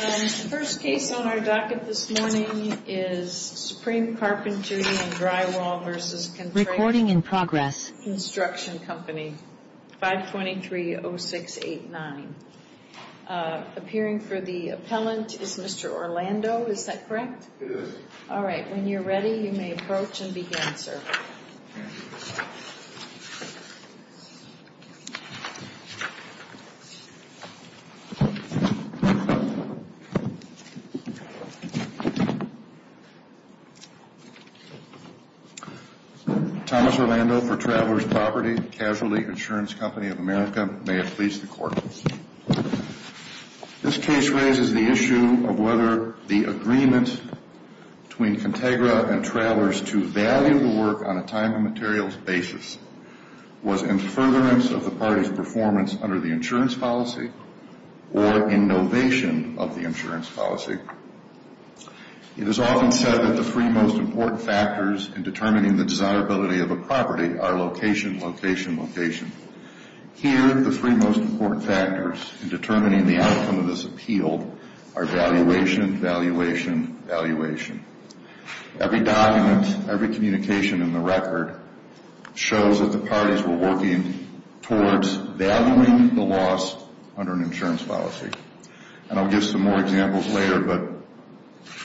The first case on our docket this morning is Supreme Carpentry and Drywall v. Contegra Construction Co., 523-0689. Appearing for the appellant is Mr. Orlando, is that correct? It is. All right, when you're ready, you may approach and begin, sir. Thomas Orlando for Travelers' Property, Casualty Insurance Company of America. May it please the Court. This case raises the issue of whether the agreement between Contegra and Travelers to value the work on a time and materials basis was in furtherance of the party's performance under the insurance policy or in novation of the insurance policy. It is often said that the three most important factors in determining the desirability of a property are location, location, location. Here, the three most important factors in determining the outcome of this appeal are valuation, valuation, valuation. Every document, every communication in the record shows that the parties were working towards valuing the loss under an insurance policy. And I'll give some more examples later, but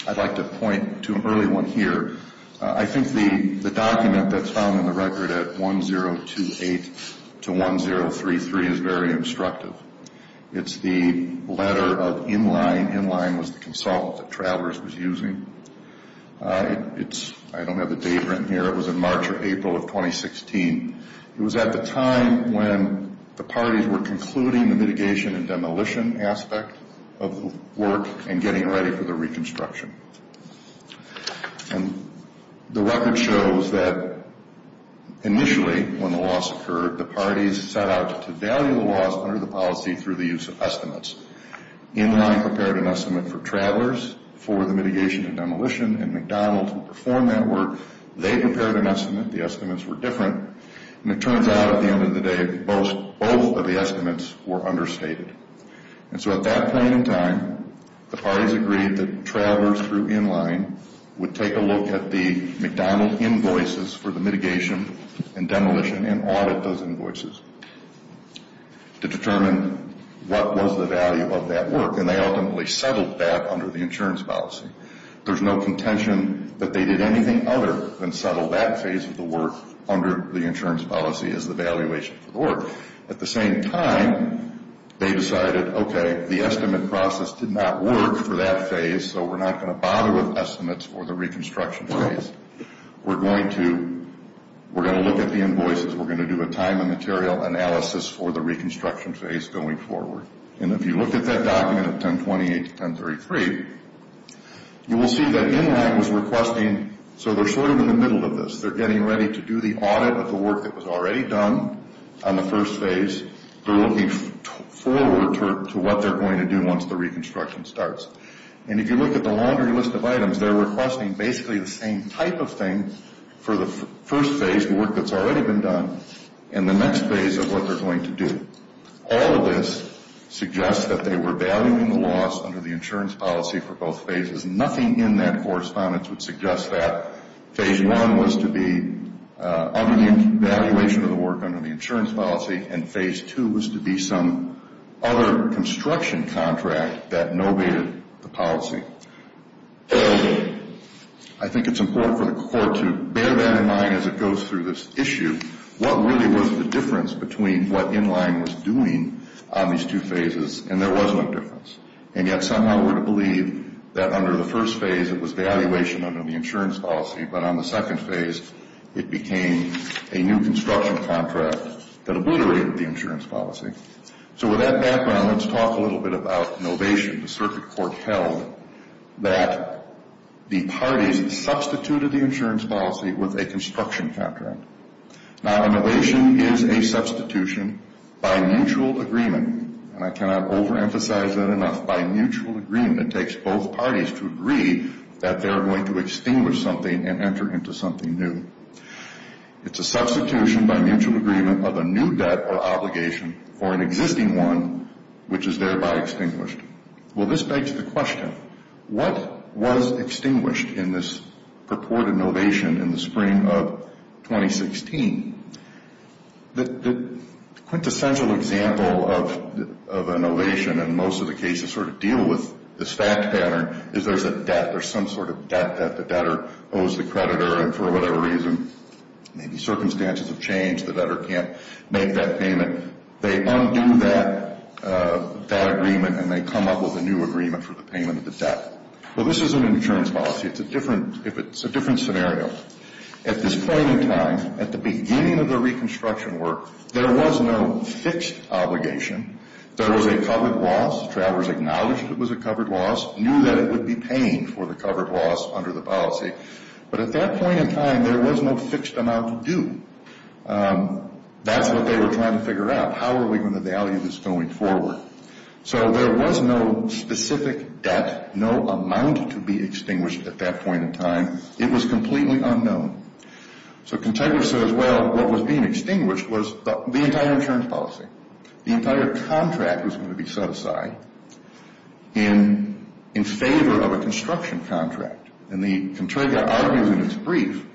I'd like to point to an early one here. I think the document that's found in the record at 1028-1033 is very instructive. It's the letter of Inline. Inline was the consult that Travelers was using. I don't have the date written here. It was in March or April of 2016. It was at the time when the parties were concluding the mitigation and demolition aspect of the work and getting ready for the reconstruction. And the record shows that initially, when the loss occurred, the parties set out to value the loss under the policy through the use of estimates. Inline prepared an estimate for Travelers for the mitigation and demolition, and McDonald who performed that work, they prepared an estimate. The estimates were different, and it turns out at the end of the day, both of the estimates were understated. And so at that point in time, the parties agreed that Travelers through Inline would take a look at the McDonald invoices for the mitigation and demolition and audit those invoices to determine what was the value of that work, and they ultimately settled that under the insurance policy. There's no contention that they did anything other than settle that phase of the work under the insurance policy as the valuation for the work. At the same time, they decided, okay, the estimate process did not work for that phase, so we're not going to bother with estimates for the reconstruction phase. We're going to look at the invoices. We're going to do a time and material analysis for the reconstruction phase going forward. And if you look at that document at 1028 to 1033, you will see that Inline was requesting, so they're sort of in the middle of this. They're getting ready to do the audit of the work that was already done on the first phase. They're looking forward to what they're going to do once the reconstruction starts. And if you look at the laundry list of items, they're requesting basically the same type of thing for the first phase, the work that's already been done, and the next phase of what they're going to do. All of this suggests that they were valuing the loss under the insurance policy for both phases. Nothing in that correspondence would suggest that phase one was to be under the evaluation of the work under the insurance policy and phase two was to be some other construction contract that novated the policy. I think it's important for the court to bear that in mind as it goes through this issue. What really was the difference between what Inline was doing on these two phases? And yet somehow we're to believe that under the first phase it was evaluation under the insurance policy, but on the second phase it became a new construction contract that obliterated the insurance policy. So with that background, let's talk a little bit about novation. The circuit court held that the parties substituted the insurance policy with a construction contract. Now, a novation is a substitution by mutual agreement. And I cannot overemphasize that enough. By mutual agreement, it takes both parties to agree that they're going to extinguish something and enter into something new. It's a substitution by mutual agreement of a new debt or obligation for an existing one, which is thereby extinguished. Well, this begs the question, what was extinguished in this purported novation in the spring of 2016? The quintessential example of a novation, and most of the cases sort of deal with this fact pattern, is there's a debt. There's some sort of debt that the debtor owes the creditor, and for whatever reason, maybe circumstances have changed, the debtor can't make that payment. They undo that agreement and they come up with a new agreement for the payment of the debt. Well, this is an insurance policy. It's a different scenario. At this point in time, at the beginning of the reconstruction work, there was no fixed obligation. There was a covered loss. Travers acknowledged it was a covered loss, knew that it would be paying for the covered loss under the policy. But at that point in time, there was no fixed amount to do. That's what they were trying to figure out. How are we going to value this going forward? So there was no specific debt, no amount to be extinguished at that point in time. It was completely unknown. So Contegra says, well, what was being extinguished was the entire insurance policy. The entire contract was going to be set aside in favor of a construction contract. And Contegra argues in its brief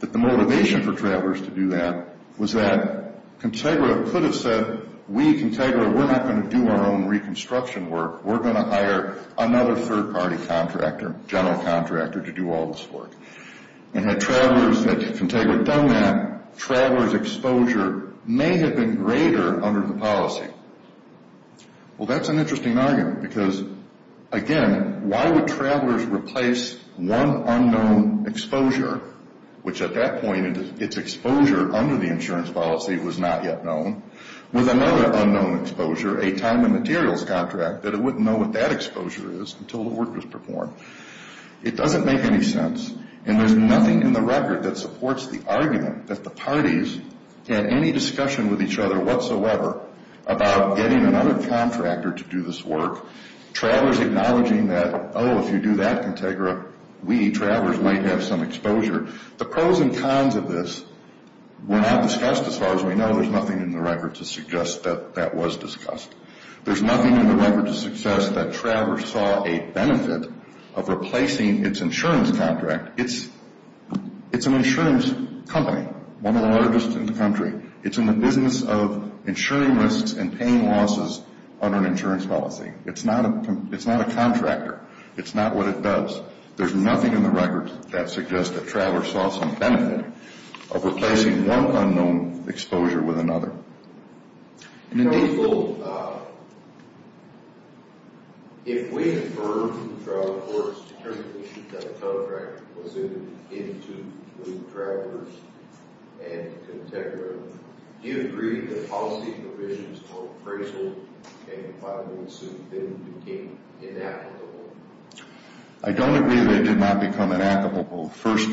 that the motivation for Travers to do that was that Contegra could have said, we at Contegra, we're not going to do our own reconstruction work. We're going to hire another third-party contractor, general contractor, to do all this work. And had Travers, had Contegra done that, Travers' exposure may have been greater under the policy. Well, that's an interesting argument because, again, why would Travers replace one unknown exposure, which at that point its exposure under the insurance policy was not yet known, with another unknown exposure, a time and materials contract, that it wouldn't know what that exposure is until the work was performed. It doesn't make any sense. And there's nothing in the record that supports the argument that the parties had any discussion with each other whatsoever about getting another contractor to do this work. Travers acknowledging that, oh, if you do that, Contegra, we, Travers, might have some exposure. The pros and cons of this were not discussed as far as we know. There's nothing in the record to suggest that that was discussed. There's nothing in the record to suggest that Travers saw a benefit of replacing its insurance contract. It's an insurance company, one of the largest in the country. It's in the business of insuring risks and paying losses under an insurance policy. It's not a contractor. It's not what it does. There's nothing in the record that suggests that Travers saw some benefit of replacing one unknown exposure with another. And indeed... Counsel, if we inferred from Travers that the contract was in tune with Travers and Contegra, do you agree that policy provisions on appraisal and compliance with them became inapplicable? I don't agree that they did not become inapplicable. First,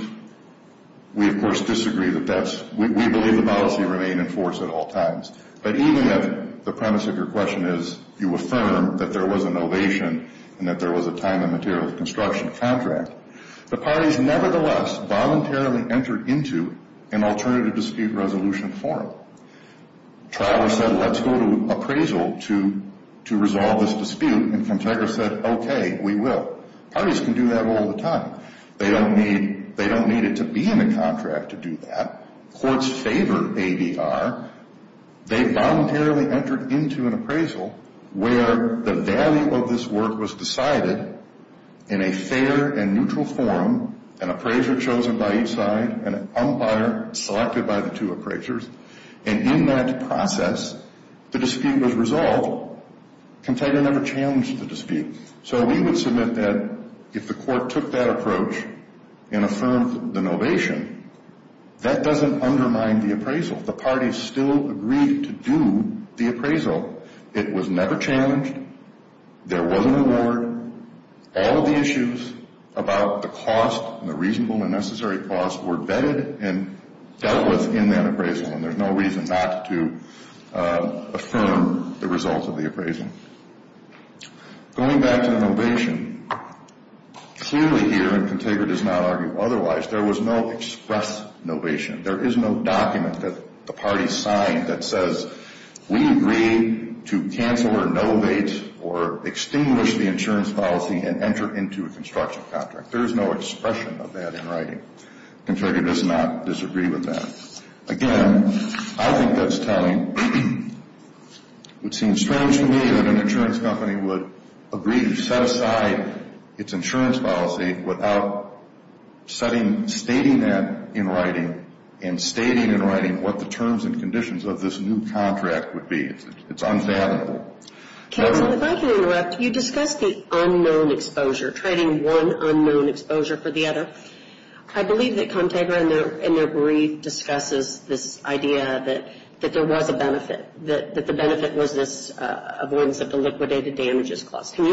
we, of course, disagree that that's... We believe the policy remained in force at all times. But even if the premise of your question is you affirm that there was an ovation and that there was a time and material construction contract, the parties nevertheless voluntarily entered into an alternative dispute resolution forum. Travers said, let's go to appraisal to resolve this dispute, and Contegra said, okay, we will. Parties can do that all the time. They don't need it to be in the contract to do that. Courts favor ADR. They voluntarily entered into an appraisal where the value of this work was decided in a fair and neutral forum, an appraiser chosen by each side, an umpire selected by the two appraisers. And in that process, the dispute was resolved. Contegra never challenged the dispute. So we would submit that if the court took that approach and affirmed the novation, that doesn't undermine the appraisal. The parties still agreed to do the appraisal. It was never challenged. There was an award. All of the issues about the cost and the reasonable and necessary cost were vetted and dealt with in that appraisal, and there's no reason not to affirm the results of the appraisal. Going back to the novation, clearly here, and Contegra does not argue otherwise, there was no express novation. There is no document that the parties signed that says we agree to cancel or novate or extinguish the insurance policy and enter into a construction contract. There is no expression of that in writing. Contegra does not disagree with that. Again, I think that's telling. It would seem strange to me that an insurance company would agree to set aside its insurance policy without stating that in writing and stating in writing what the terms and conditions of this new contract would be. It's unfathomable. If I can interrupt, you discussed the unknown exposure, trading one unknown exposure for the other. I believe that Contegra in their brief discusses this idea that there was a benefit, that the benefit was this avoidance of the liquidated damages clause. Can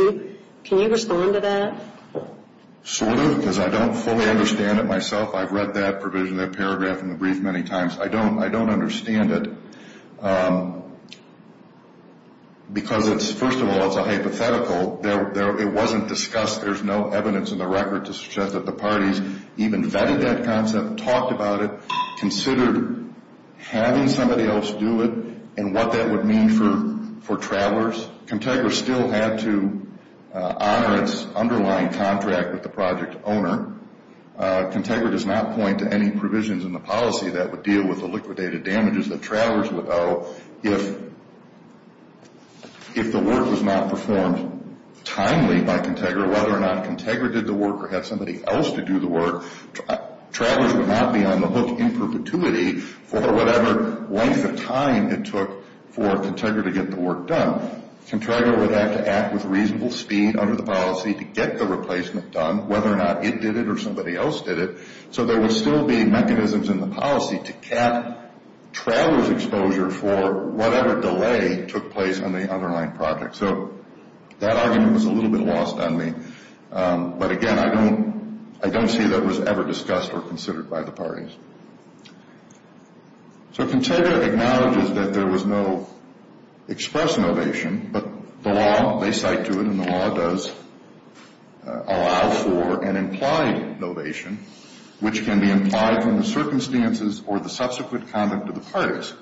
you respond to that? Sort of, because I don't fully understand it myself. I've read that provision, that paragraph in the brief many times. I don't understand it because, first of all, it's a hypothetical. It wasn't discussed. There's no evidence in the record to suggest that the parties even vetted that concept, talked about it, considered having somebody else do it and what that would mean for travelers. Contegra still had to honor its underlying contract with the project owner. Contegra does not point to any provisions in the policy that would deal with the liquidated damages that travelers would owe if the work was not performed timely by Contegra. Whether or not Contegra did the work or had somebody else to do the work, travelers would not be on the hook in perpetuity for whatever length of time it took for Contegra to get the work done. Contegra would have to act with reasonable speed under the policy to get the replacement done, whether or not it did it or somebody else did it, so there would still be mechanisms in the policy to cap travelers' exposure for whatever delay took place on the underlying project. So that argument was a little bit lost on me. But, again, I don't see that it was ever discussed or considered by the parties. So Contegra acknowledges that there was no express novation, but the law, they cite to it, and the law does allow for an implied novation, which can be implied from the circumstances or the subsequent conduct of the parties.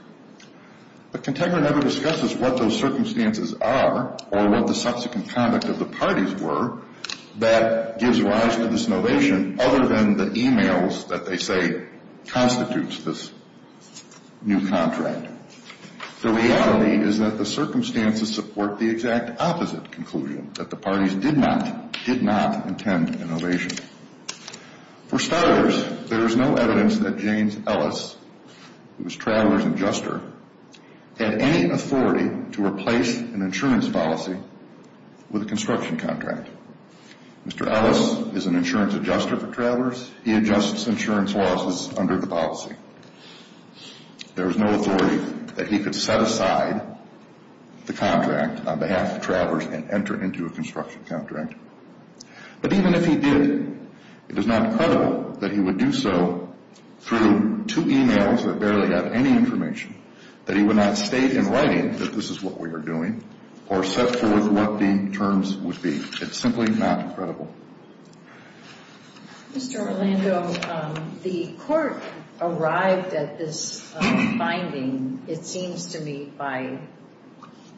But Contegra never discusses what those circumstances are or what the subsequent conduct of the parties were that gives rise to this novation other than the e-mails that they say constitutes this new contract. The reality is that the circumstances support the exact opposite conclusion, that the parties did not intend an ovation. For starters, there is no evidence that James Ellis, who was Traveler's Adjuster, had any authority to replace an insurance policy with a construction contract. Mr. Ellis is an insurance adjuster for travelers. He adjusts insurance losses under the policy. There is no authority that he could set aside the contract on behalf of travelers and enter into a construction contract. But even if he did, it is not credible that he would do so through two e-mails that barely have any information, that he would not state in writing that this is what we are doing or set forth what the terms would be. It's simply not credible. Mr. Orlando, the court arrived at this finding, it seems to me, by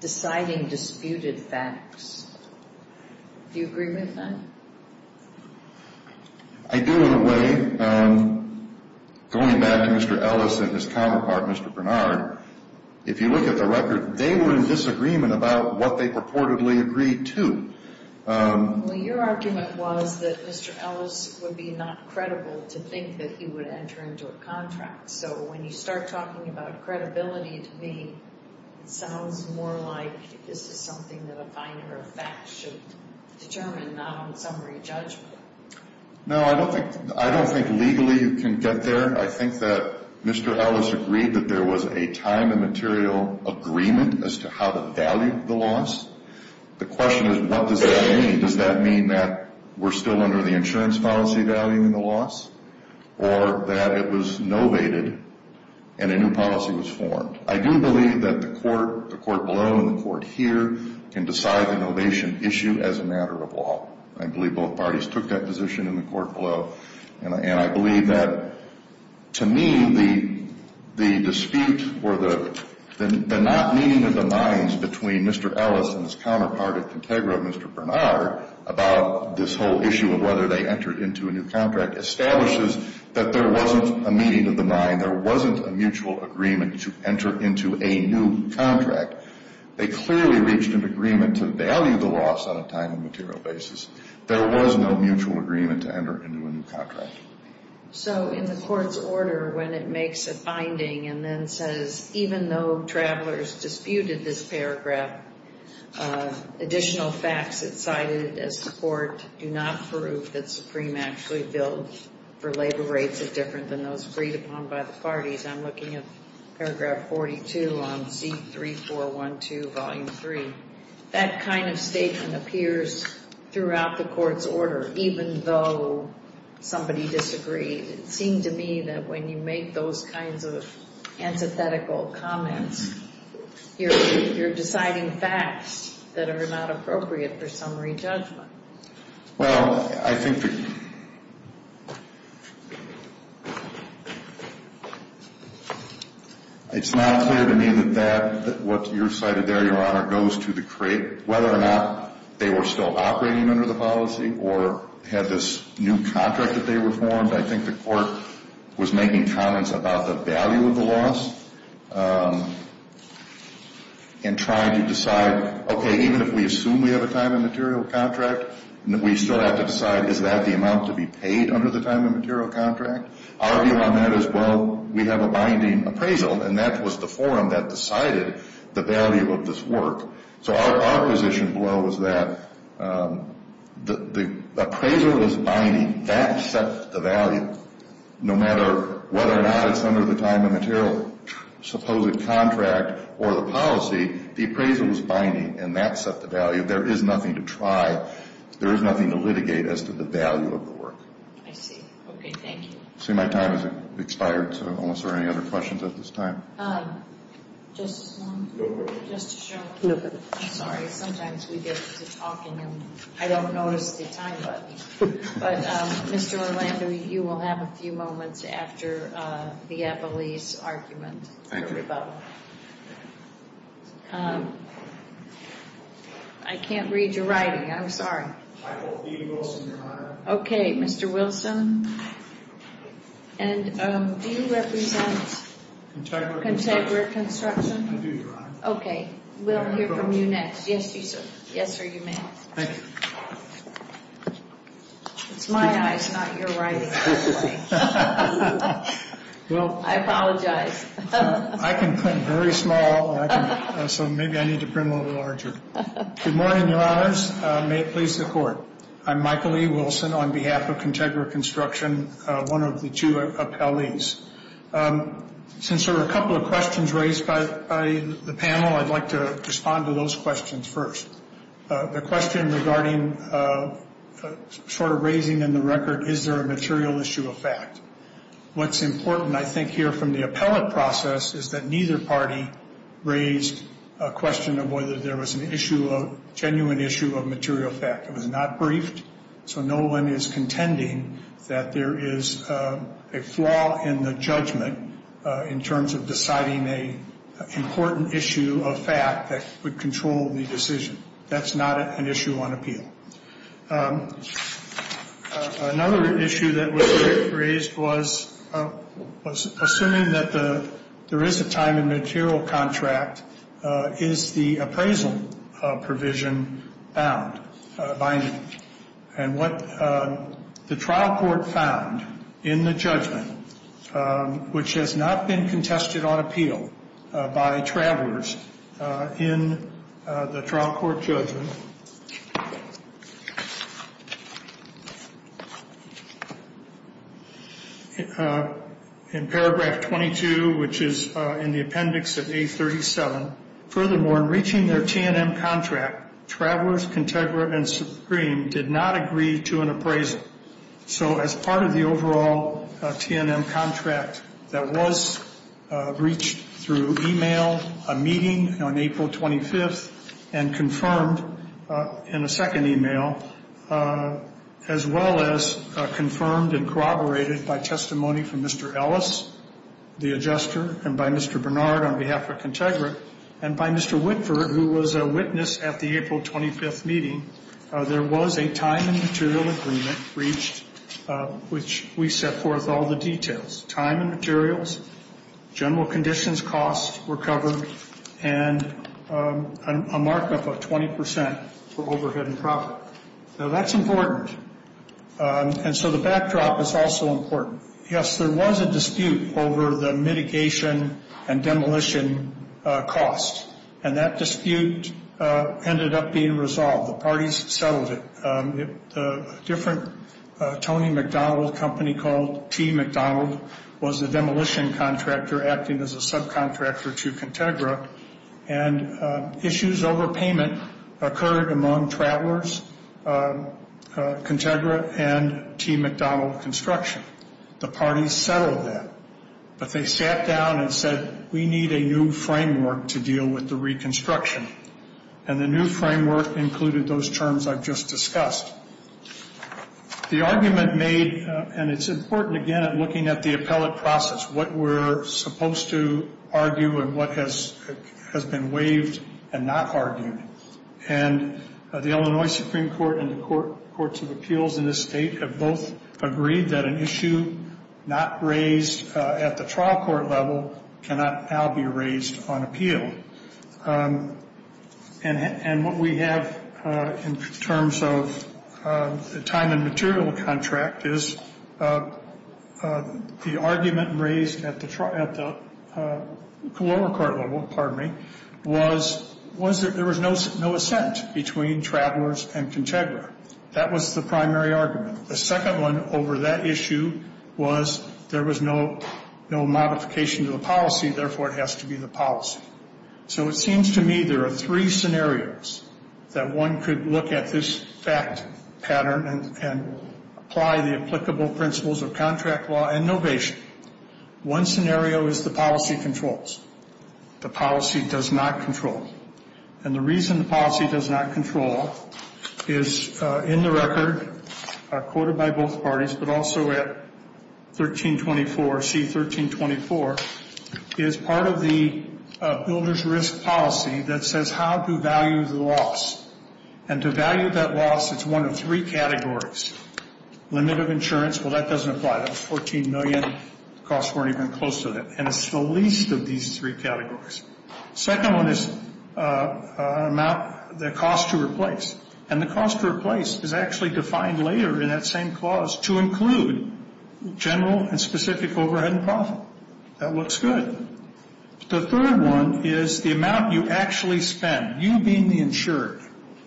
deciding disputed facts. Do you agree with that? I do, in a way. Going back to Mr. Ellis and his counterpart, Mr. Bernard, if you look at the record, they were in disagreement about what they purportedly agreed to. Well, your argument was that Mr. Ellis would be not credible to think that he would enter into a contract. So when you start talking about credibility to me, it sounds more like this is something that a finer fact should determine, not a summary judgment. No, I don't think legally you can get there. I think that Mr. Ellis agreed that there was a time and material agreement as to how to value the loss. The question is what does that mean? Does that mean that we're still under the insurance policy value in the loss or that it was novated and a new policy was formed? I do believe that the court below and the court here can decide the novation issue as a matter of law. I believe both parties took that position in the court below, and I believe that to me the dispute or the not meeting of the minds between Mr. Ellis and his counterpart at Contegra, Mr. Bernard, about this whole issue of whether they entered into a new contract establishes that there wasn't a meeting of the mind. There wasn't a mutual agreement to enter into a new contract. They clearly reached an agreement to value the loss on a time and material basis. There was no mutual agreement to enter into a new contract. So in the court's order when it makes a finding and then says, even though travelers disputed this paragraph, additional facts that cited as support do not prove that Supreme actually billed for labor rates that are different than those agreed upon by the parties, I'm looking at paragraph 42 on C3412, volume 3. That kind of statement appears throughout the court's order, even though somebody disagreed. It seemed to me that when you make those kinds of antithetical comments, you're deciding facts that are not appropriate for summary judgment. Well, I think it's not clear to me that what you cited there, Your Honor, goes to the crate. Whether or not they were still operating under the policy or had this new contract that they were formed, I think the court was making comments about the value of the loss and trying to decide, okay, even if we assume we have a time and material contract, we still have to decide, is that the amount to be paid under the time and material contract? Our view on that is, well, we have a binding appraisal, and that was the forum that decided the value of this work. So our position below is that the appraisal is binding. That set the value. No matter whether or not it's under the time and material supposed contract or the policy, the appraisal is binding, and that set the value. There is nothing to try. There is nothing to litigate as to the value of the work. I see. Okay, thank you. I see my time has expired, so I don't know if there are any other questions at this time. Justice Long? No questions. Justice Sharkey? No questions. I'm sorry. Sometimes we get to talking and I don't notice the time button. But, Mr. Orlando, you will have a few moments after the appellee's argument for rebuttal. I can't read your writing. I'm sorry. I will. Dean Wilson, Your Honor. Okay, Mr. Wilson. And do you represent Contemporary Construction? I do, Your Honor. Okay, we'll hear from you next. Yes, you sir. Yes, sir, you may. Thank you. It's my eyes, not your writing. I apologize. I can print very small, so maybe I need to print a little larger. Good morning, Your Honors. May it please the Court. I'm Michael E. Wilson on behalf of Contemporary Construction, one of the two appellees. Since there are a couple of questions raised by the panel, I'd like to respond to those questions first. The question regarding sort of raising in the record, is there a material issue of fact? What's important, I think, here from the appellate process is that neither party raised a question of whether there was an issue, a genuine issue of material fact. It was not briefed, so no one is contending that there is a flaw in the judgment in terms of deciding an important issue of fact that would control the decision. That's not an issue on appeal. Another issue that was raised was assuming that there is a time and material contract, is the appraisal provision bound by any? And what the trial court found in the judgment, which has not been contested on appeal by travelers in the trial court judgment, in paragraph 22, which is in the appendix of A37, furthermore, in reaching their T&M contract, Travelers, Contegra, and Supreme did not agree to an appraisal. So as part of the overall T&M contract that was reached through email, a meeting on April 25th and confirmed in a second email, as well as confirmed and corroborated by testimony from Mr. Ellis, the adjuster, and by Mr. Bernard on behalf of Contegra, and by Mr. Whitford, who was a witness at the April 25th meeting, there was a time and material agreement reached, which we set forth all the details. Time and materials, general conditions, costs were covered, and a markup of 20% for overhead and profit. Now, that's important, and so the backdrop is also important. Yes, there was a dispute over the mitigation and demolition costs, and that dispute ended up being resolved. The parties settled it. A different Tony McDonald company called T. McDonald was the demolition contractor acting as a subcontractor to Contegra, and issues over payment occurred among Travelers, Contegra, and T. McDonald Construction. The parties settled that, but they sat down and said, we need a new framework to deal with the reconstruction, and the new framework included those terms I've just discussed. The argument made, and it's important, again, in looking at the appellate process, what we're supposed to argue and what has been waived and not argued. And the Illinois Supreme Court and the courts of appeals in this state have both agreed that an issue not raised at the trial court level cannot now be raised on appeal. And what we have in terms of the time and material contract is the argument raised at the lower court level, pardon me, was there was no assent between Travelers and Contegra. That was the primary argument. The second one over that issue was there was no modification to the policy, therefore it has to be the policy. So it seems to me there are three scenarios that one could look at this fact pattern and apply the applicable principles of contract law and novation. One scenario is the policy controls. The policy does not control. And the reason the policy does not control is in the record, quoted by both parties, but also at 1324, C1324, is part of the builder's risk policy that says how to value the loss. And to value that loss, it's one of three categories. Limit of insurance, well, that doesn't apply. That was $14 million. The costs weren't even close to that. And it's the least of these three categories. The second one is the cost to replace. And the cost to replace is actually defined later in that same clause to include general and specific overhead and profit. That looks good. The third one is the amount you actually spend, you being the insured.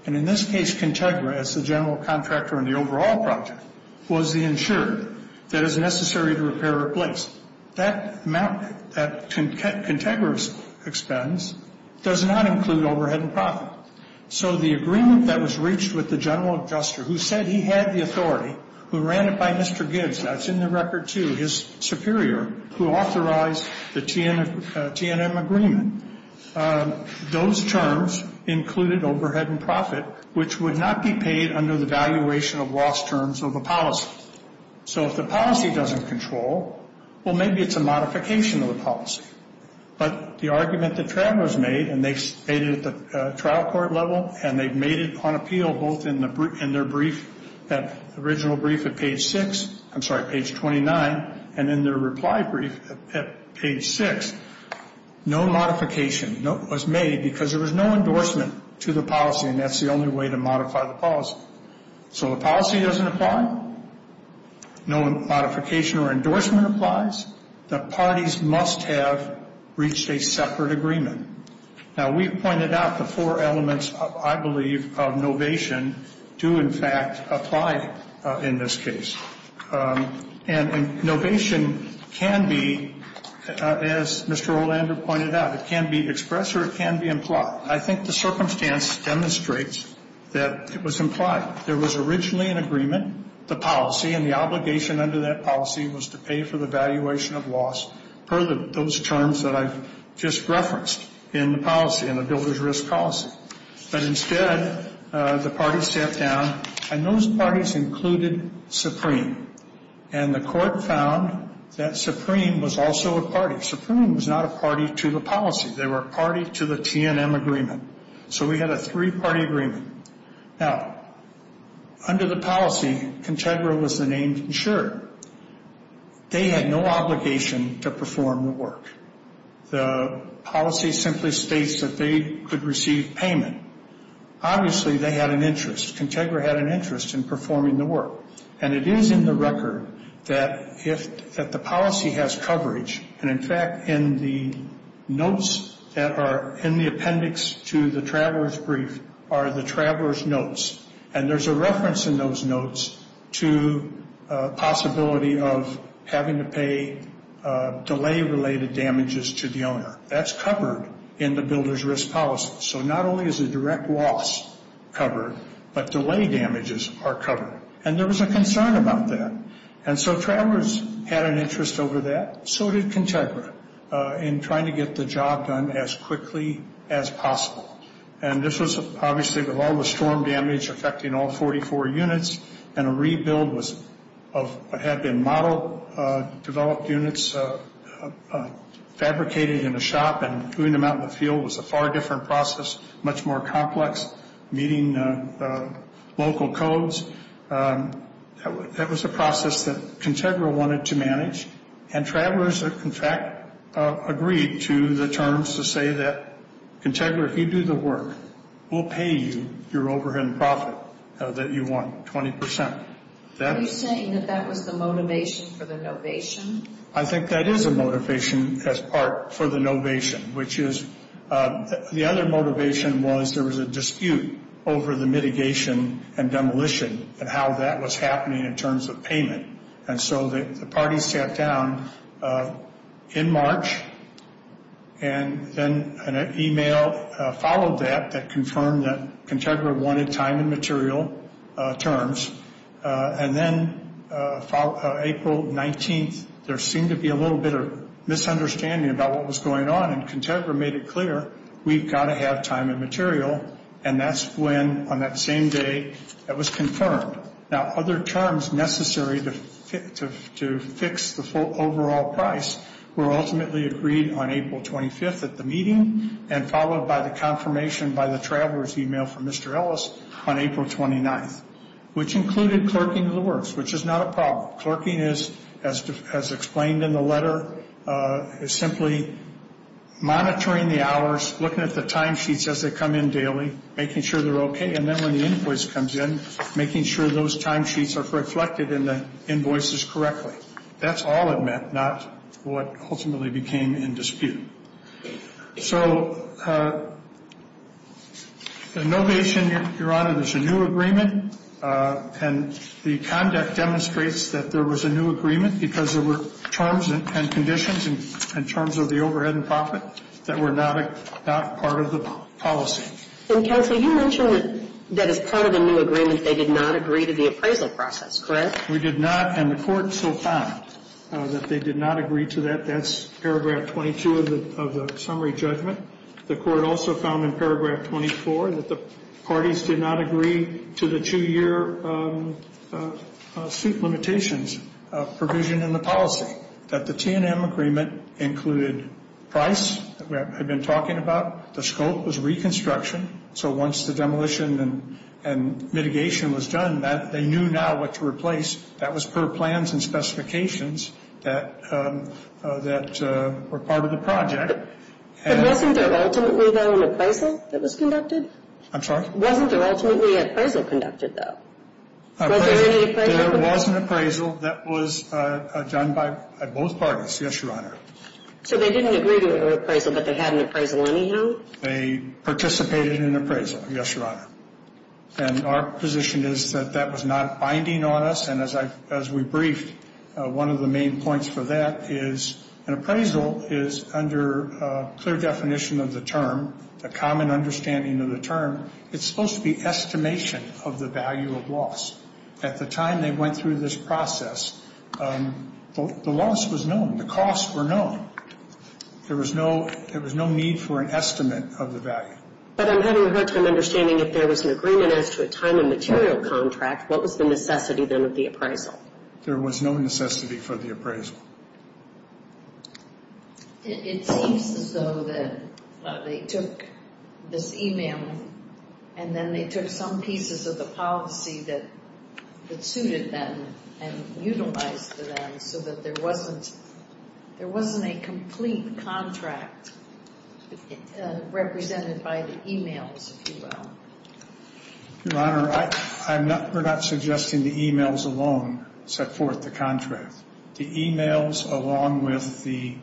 And in this case, Contegra, as the general contractor in the overall project, was the insured that is necessary to repair or replace. That amount, that Contegra's expense, does not include overhead and profit. So the agreement that was reached with the general adjuster, who said he had the authority, who ran it by Mr. Gibbs, that's in the record, too, his superior, who authorized the T&M agreement, those terms included overhead and profit, which would not be paid under the valuation of loss terms of a policy. So if the policy doesn't control, well, maybe it's a modification of the policy. But the argument that Trav was made, and they made it at the trial court level, and they've made it on appeal both in their original brief at page 6, I'm sorry, page 29, and in their reply brief at page 6. No modification was made because there was no endorsement to the policy, and that's the only way to modify the policy. So the policy doesn't apply. No modification or endorsement applies. The parties must have reached a separate agreement. Now, we've pointed out the four elements, I believe, of novation do, in fact, apply in this case. And novation can be, as Mr. Orlando pointed out, it can be expressed or it can be implied. I think the circumstance demonstrates that it was implied. There was originally an agreement, the policy, and the obligation under that policy was to pay for the valuation of loss per those terms that I've just referenced in the policy, in the builder's risk policy. But instead, the parties sat down, and those parties included Supreme. And the court found that Supreme was also a party. Supreme was not a party to the policy. They were a party to the TNM agreement. So we had a three-party agreement. Now, under the policy, Contegra was the named insurer. They had no obligation to perform the work. The policy simply states that they could receive payment. Obviously, they had an interest. Contegra had an interest in performing the work. And it is in the record that the policy has coverage. And, in fact, in the notes that are in the appendix to the traveler's brief are the traveler's notes. And there's a reference in those notes to a possibility of having to pay delay-related damages to the owner. That's covered in the builder's risk policy. So not only is the direct loss covered, but delay damages are covered. And there was a concern about that. And so travelers had an interest over that. So did Contegra in trying to get the job done as quickly as possible. And this was, obviously, with all the storm damage affecting all 44 units, and a rebuild had been modeled, developed units, fabricated in a shop, and doing them out in the field was a far different process, much more complex, meeting local codes. That was a process that Contegra wanted to manage. And travelers, in fact, agreed to the terms to say that, Contegra, if you do the work, we'll pay you your overhead and profit that you want, 20%. Are you saying that that was the motivation for the novation? I think that is a motivation as part for the novation, which is the other motivation was there was a dispute over the mitigation and demolition and how that was happening in terms of payment. And so the party sat down in March, and then an email followed that that confirmed that Contegra wanted time and material terms. And then April 19th, there seemed to be a little bit of misunderstanding about what was going on, and Contegra made it clear, we've got to have time and material. And that's when, on that same day, it was confirmed. Now, other terms necessary to fix the overall price were ultimately agreed on April 25th at the meeting and followed by the confirmation by the traveler's email from Mr. Ellis on April 29th, which included clerking the works, which is not a problem. Clerking, as explained in the letter, is simply monitoring the hours, looking at the timesheets as they come in daily, making sure they're okay. And then when the invoice comes in, making sure those timesheets are reflected in the invoices correctly. That's all it meant, not what ultimately became in dispute. So the novation, Your Honor, there's a new agreement, and the conduct demonstrates that there was a new agreement because there were terms and conditions in terms of the overhead and profit that were not part of the policy. And, counsel, you mentioned that as part of the new agreement, they did not agree to the appraisal process, correct? We did not, and the Court so found that they did not agree to that. That's paragraph 22 of the summary judgment. The Court also found in paragraph 24 that the parties did not agree to the two-year suit limitations provision in the policy, that the T&M agreement included price that I've been talking about. The scope was reconstruction, so once the demolition and mitigation was done, they knew now what to replace. That was per plans and specifications that were part of the project. But wasn't there ultimately, though, an appraisal that was conducted? I'm sorry? Wasn't there ultimately an appraisal conducted, though? Was there any appraisal? There was an appraisal that was done by both parties, yes, Your Honor. So they didn't agree to an appraisal, but they had an appraisal anyhow? They participated in an appraisal, yes, Your Honor. And our position is that that was not binding on us, and as we briefed, one of the main points for that is an appraisal is, under clear definition of the term, a common understanding of the term, it's supposed to be estimation of the value of loss. At the time they went through this process, the loss was known. The costs were known. There was no need for an estimate of the value. But I'm having a hard time understanding, if there was an agreement as to a time and material contract, what was the necessity then of the appraisal? There was no necessity for the appraisal. It seems as though that they took this e-mail and then they took some pieces of the policy that suited them and utilized them so that there wasn't a complete contract represented by the e-mails, if you will. Your Honor, we're not suggesting the e-mails alone set forth the contract. The e-mails along with the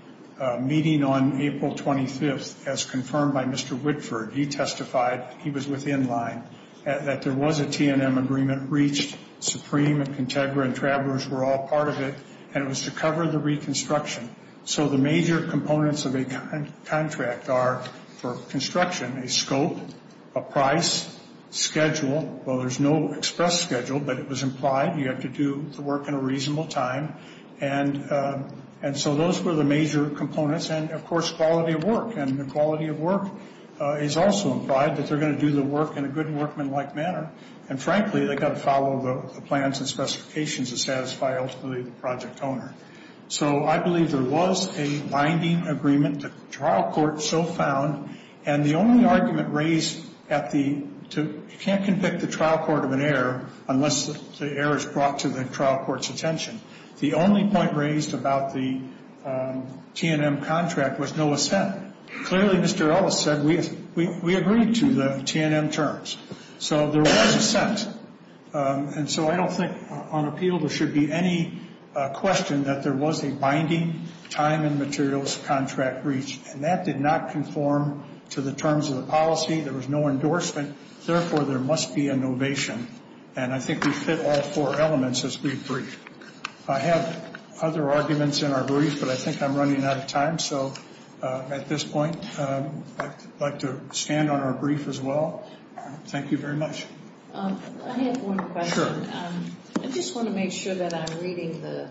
meeting on April 25th, as confirmed by Mr. Whitford, he testified, he was within line, that there was a T&M agreement reached. Supreme and Contegra and Travelers were all part of it, and it was to cover the reconstruction. So the major components of a contract are, for construction, a scope, a price, schedule. Well, there's no express schedule, but it was implied. You have to do the work in a reasonable time. And so those were the major components. And, of course, quality of work. And the quality of work is also implied, that they're going to do the work in a good workmanlike manner. And, frankly, they've got to follow the plans and specifications to satisfy ultimately the project owner. So I believe there was a binding agreement. The trial court so found. And the only argument raised at the ‑‑ you can't convict the trial court of an error unless the error is brought to the trial court's attention. The only point raised about the T&M contract was no assent. Clearly, Mr. Ellis said, we agreed to the T&M terms. So there was assent. And so I don't think on appeal there should be any question that there was a binding time and materials contract reached. And that did not conform to the terms of the policy. There was no endorsement. Therefore, there must be a novation. And I think we fit all four elements as we brief. I have other arguments in our brief, but I think I'm running out of time. So at this point, I'd like to stand on our brief as well. Thank you very much. I have one question. I just want to make sure that I'm reading the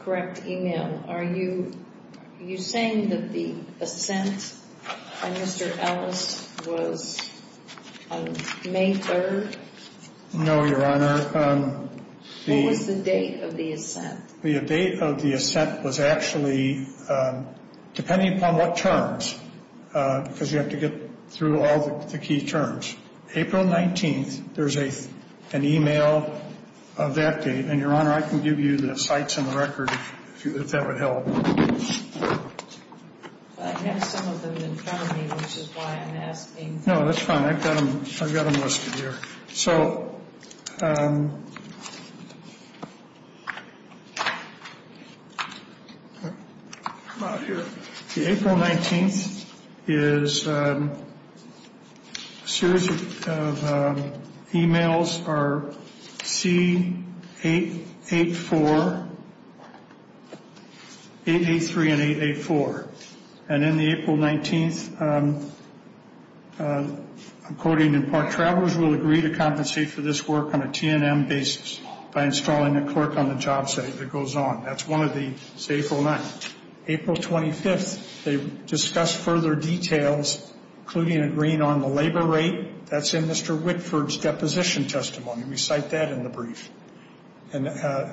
correct email. Are you saying that the assent by Mr. Ellis was on May 3rd? No, Your Honor. What was the date of the assent? The date of the assent was actually, depending upon what terms, because you have to get through all the key terms, April 19th, there's an email of that date. And, Your Honor, I can give you the sites and the record if that would help. I have some of them in front of me, which is why I'm asking. No, that's fine. I've got them listed here. So the April 19th is a series of emails are C884, 883, and 884. And in the April 19th, I'm quoting, and park travelers will agree to compensate for this work on a T&M basis by installing a clerk on the job site that goes on. That's one of the 809. April 25th, they discussed further details, including agreeing on the labor rate. That's in Mr. Wickford's deposition testimony. We cite that in the brief. And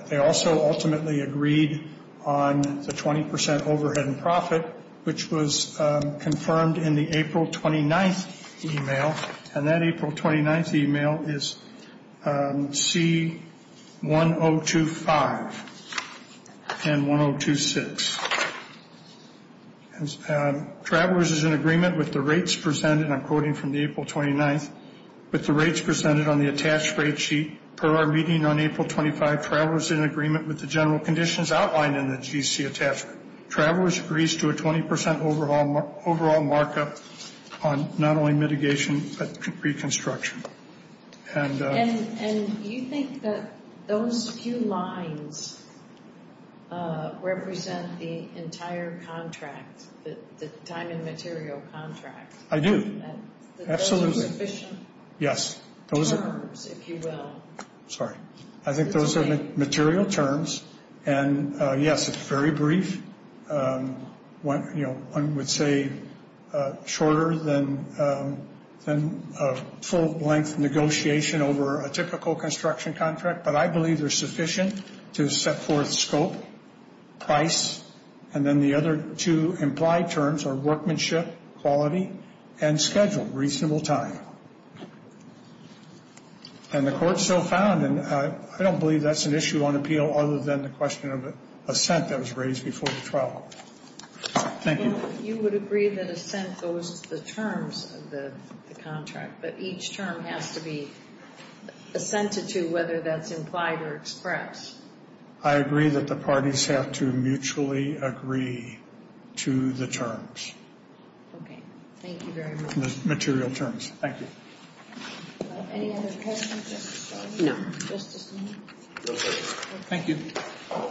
they also ultimately agreed on the 20% overhead and profit, which was confirmed in the April 29th email. And that April 29th email is C1025 and 1026. Travelers is in agreement with the rates presented, and I'm quoting from the April 29th, with the rates presented on the attached rate sheet. Per our meeting on April 25, travelers in agreement with the general conditions outlined in the GC attachment. Travelers agrees to a 20% overall markup on not only mitigation, but reconstruction. And you think that those few lines represent the entire contract, the time and material contract? I do. Absolutely. Those are sufficient terms, if you will. Sorry. I think those are material terms. And, yes, it's very brief. One would say shorter than a full-length negotiation over a typical construction contract. But I believe they're sufficient to set forth scope, price, and then the other two implied terms are workmanship, quality, and schedule, reasonable time. And the court so found, and I don't believe that's an issue on appeal other than the question of assent that was raised before the trial. Thank you. You would agree that assent goes to the terms of the contract, but each term has to be assented to whether that's implied or expressed. I agree that the parties have to mutually agree to the terms. Okay. Thank you very much. Material terms. Thank you. Any other questions? No. Thank you. All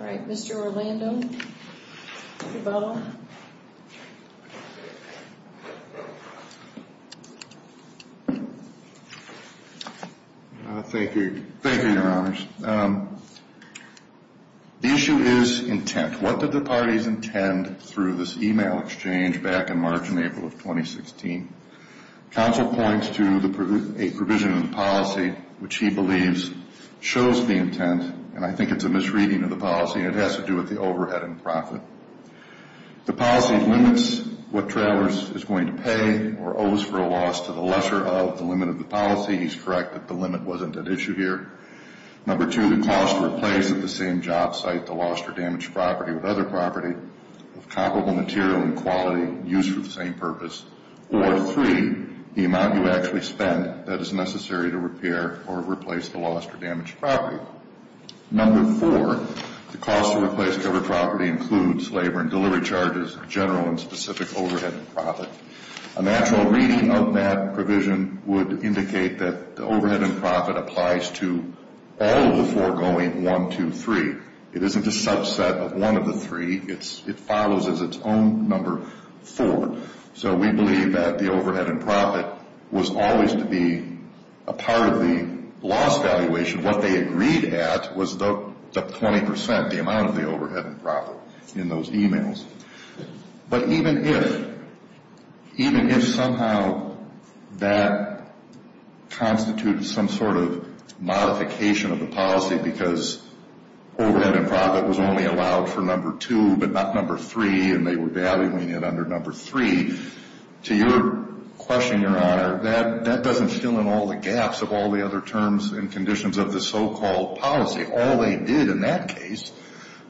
right. Mr. Orlando. Mr. Bell. Thank you. Thank you, Your Honors. The issue is intent. What did the parties intend through this e-mail exchange back in March and April of 2016? Counsel points to a provision in the policy which he believes shows the intent, and I think it's a misreading of the policy, and it has to do with the overhead and profit. The policy limits what travelers is going to pay or owes for a loss to the lesser of the limit of the policy. He's correct that the limit wasn't at issue here. Number two, the cost to replace at the same job site the lost or damaged property with other property of comparable material and quality used for the same purpose. Or three, the amount you actually spend that is necessary to repair or replace the lost or damaged property. Number four, the cost to replace covered property includes labor and delivery charges, general and specific overhead and profit. A natural reading of that provision would indicate that the overhead and profit applies to all of the four going one, two, three. It isn't a subset of one of the three. It follows as its own number four. So we believe that the overhead and profit was always to be a part of the loss valuation. What they agreed at was the 20%, the amount of the overhead and profit in those emails. But even if somehow that constitutes some sort of modification of the policy because overhead and profit was only allowed for number two but not number three and they were valuing it under number three, to your question, Your Honor, that doesn't fill in all the gaps of all the other terms and conditions of the so-called policy. All they did in that case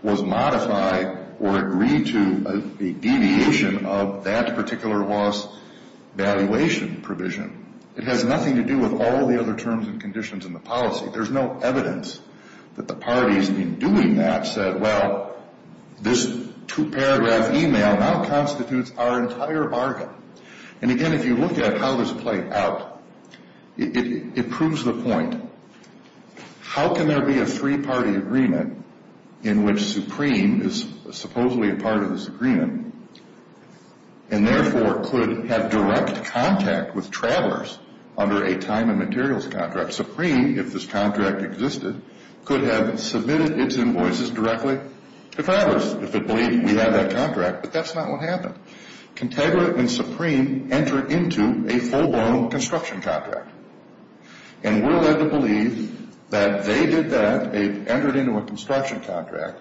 was modify or agree to a deviation of that particular loss valuation provision. It has nothing to do with all the other terms and conditions in the policy. There's no evidence that the parties in doing that said, well, this two-paragraph email now constitutes our entire bargain. And, again, if you look at how this played out, it proves the point. How can there be a three-party agreement in which Supreme is supposedly a part of this agreement and therefore could have direct contact with travelers under a time and materials contract? Supreme, if this contract existed, could have submitted its invoices directly to travelers if it believed we had that contract, but that's not what happened. Contegra and Supreme entered into a full-blown construction contract. And we're led to believe that they did that. They entered into a construction contract.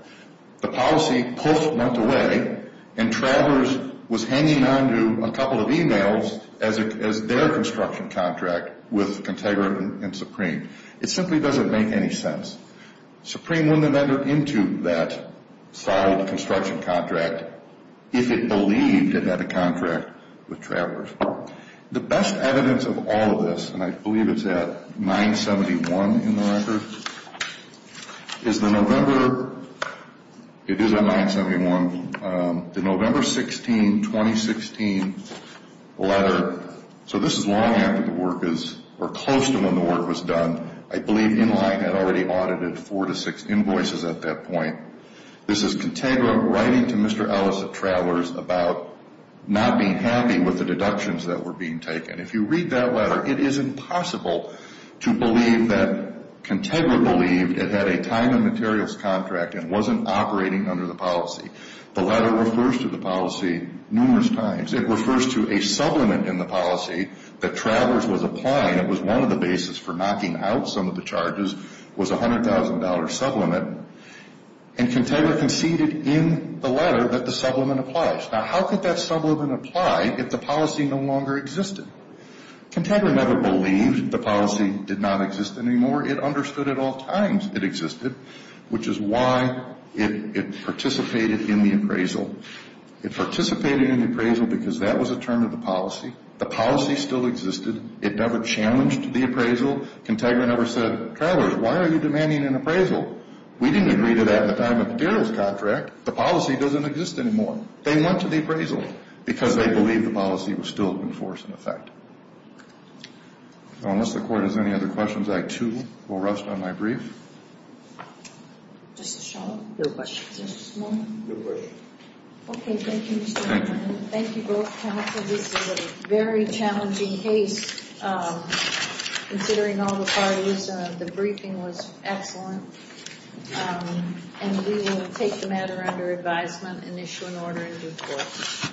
The policy pulled a month away and travelers was hanging onto a couple of emails as their construction contract with Contegra and Supreme. It simply doesn't make any sense. Supreme wouldn't have entered into that solid construction contract if it believed it had a contract with travelers. The best evidence of all of this, and I believe it's at 971 in the record, is the November 16, 2016, letter, so this is long after the work is, or close to when the work was done. I believe Inline had already audited four to six invoices at that point. This is Contegra writing to Mr. Ellis at Travelers about not being happy with the deductions that were being taken. If you read that letter, it is impossible to believe that Contegra believed it had a time and materials contract and wasn't operating under the policy. The letter refers to the policy numerous times. It refers to a supplement in the policy that Travelers was applying. It was one of the basis for knocking out some of the charges, was a $100,000 supplement, and Contegra conceded in the letter that the supplement applies. Now, how could that supplement apply if the policy no longer existed? Contegra never believed the policy did not exist anymore. It understood at all times it existed, which is why it participated in the appraisal. It participated in the appraisal because that was a term of the policy. The policy still existed. It never challenged the appraisal. Contegra never said, Travelers, why are you demanding an appraisal? We didn't agree to that at the time of the materials contract. The policy doesn't exist anymore. They went to the appraisal because they believed the policy was still in force in effect. So unless the Court has any other questions, I too will rest on my brief. Just a shout-out. No questions. Is there just one? No questions. Okay, thank you, Mr. McClendon. Thank you both counsel. This is a very challenging case, considering all the parties. The briefing was excellent. And we will take the matter under advisement and issue an order in due course.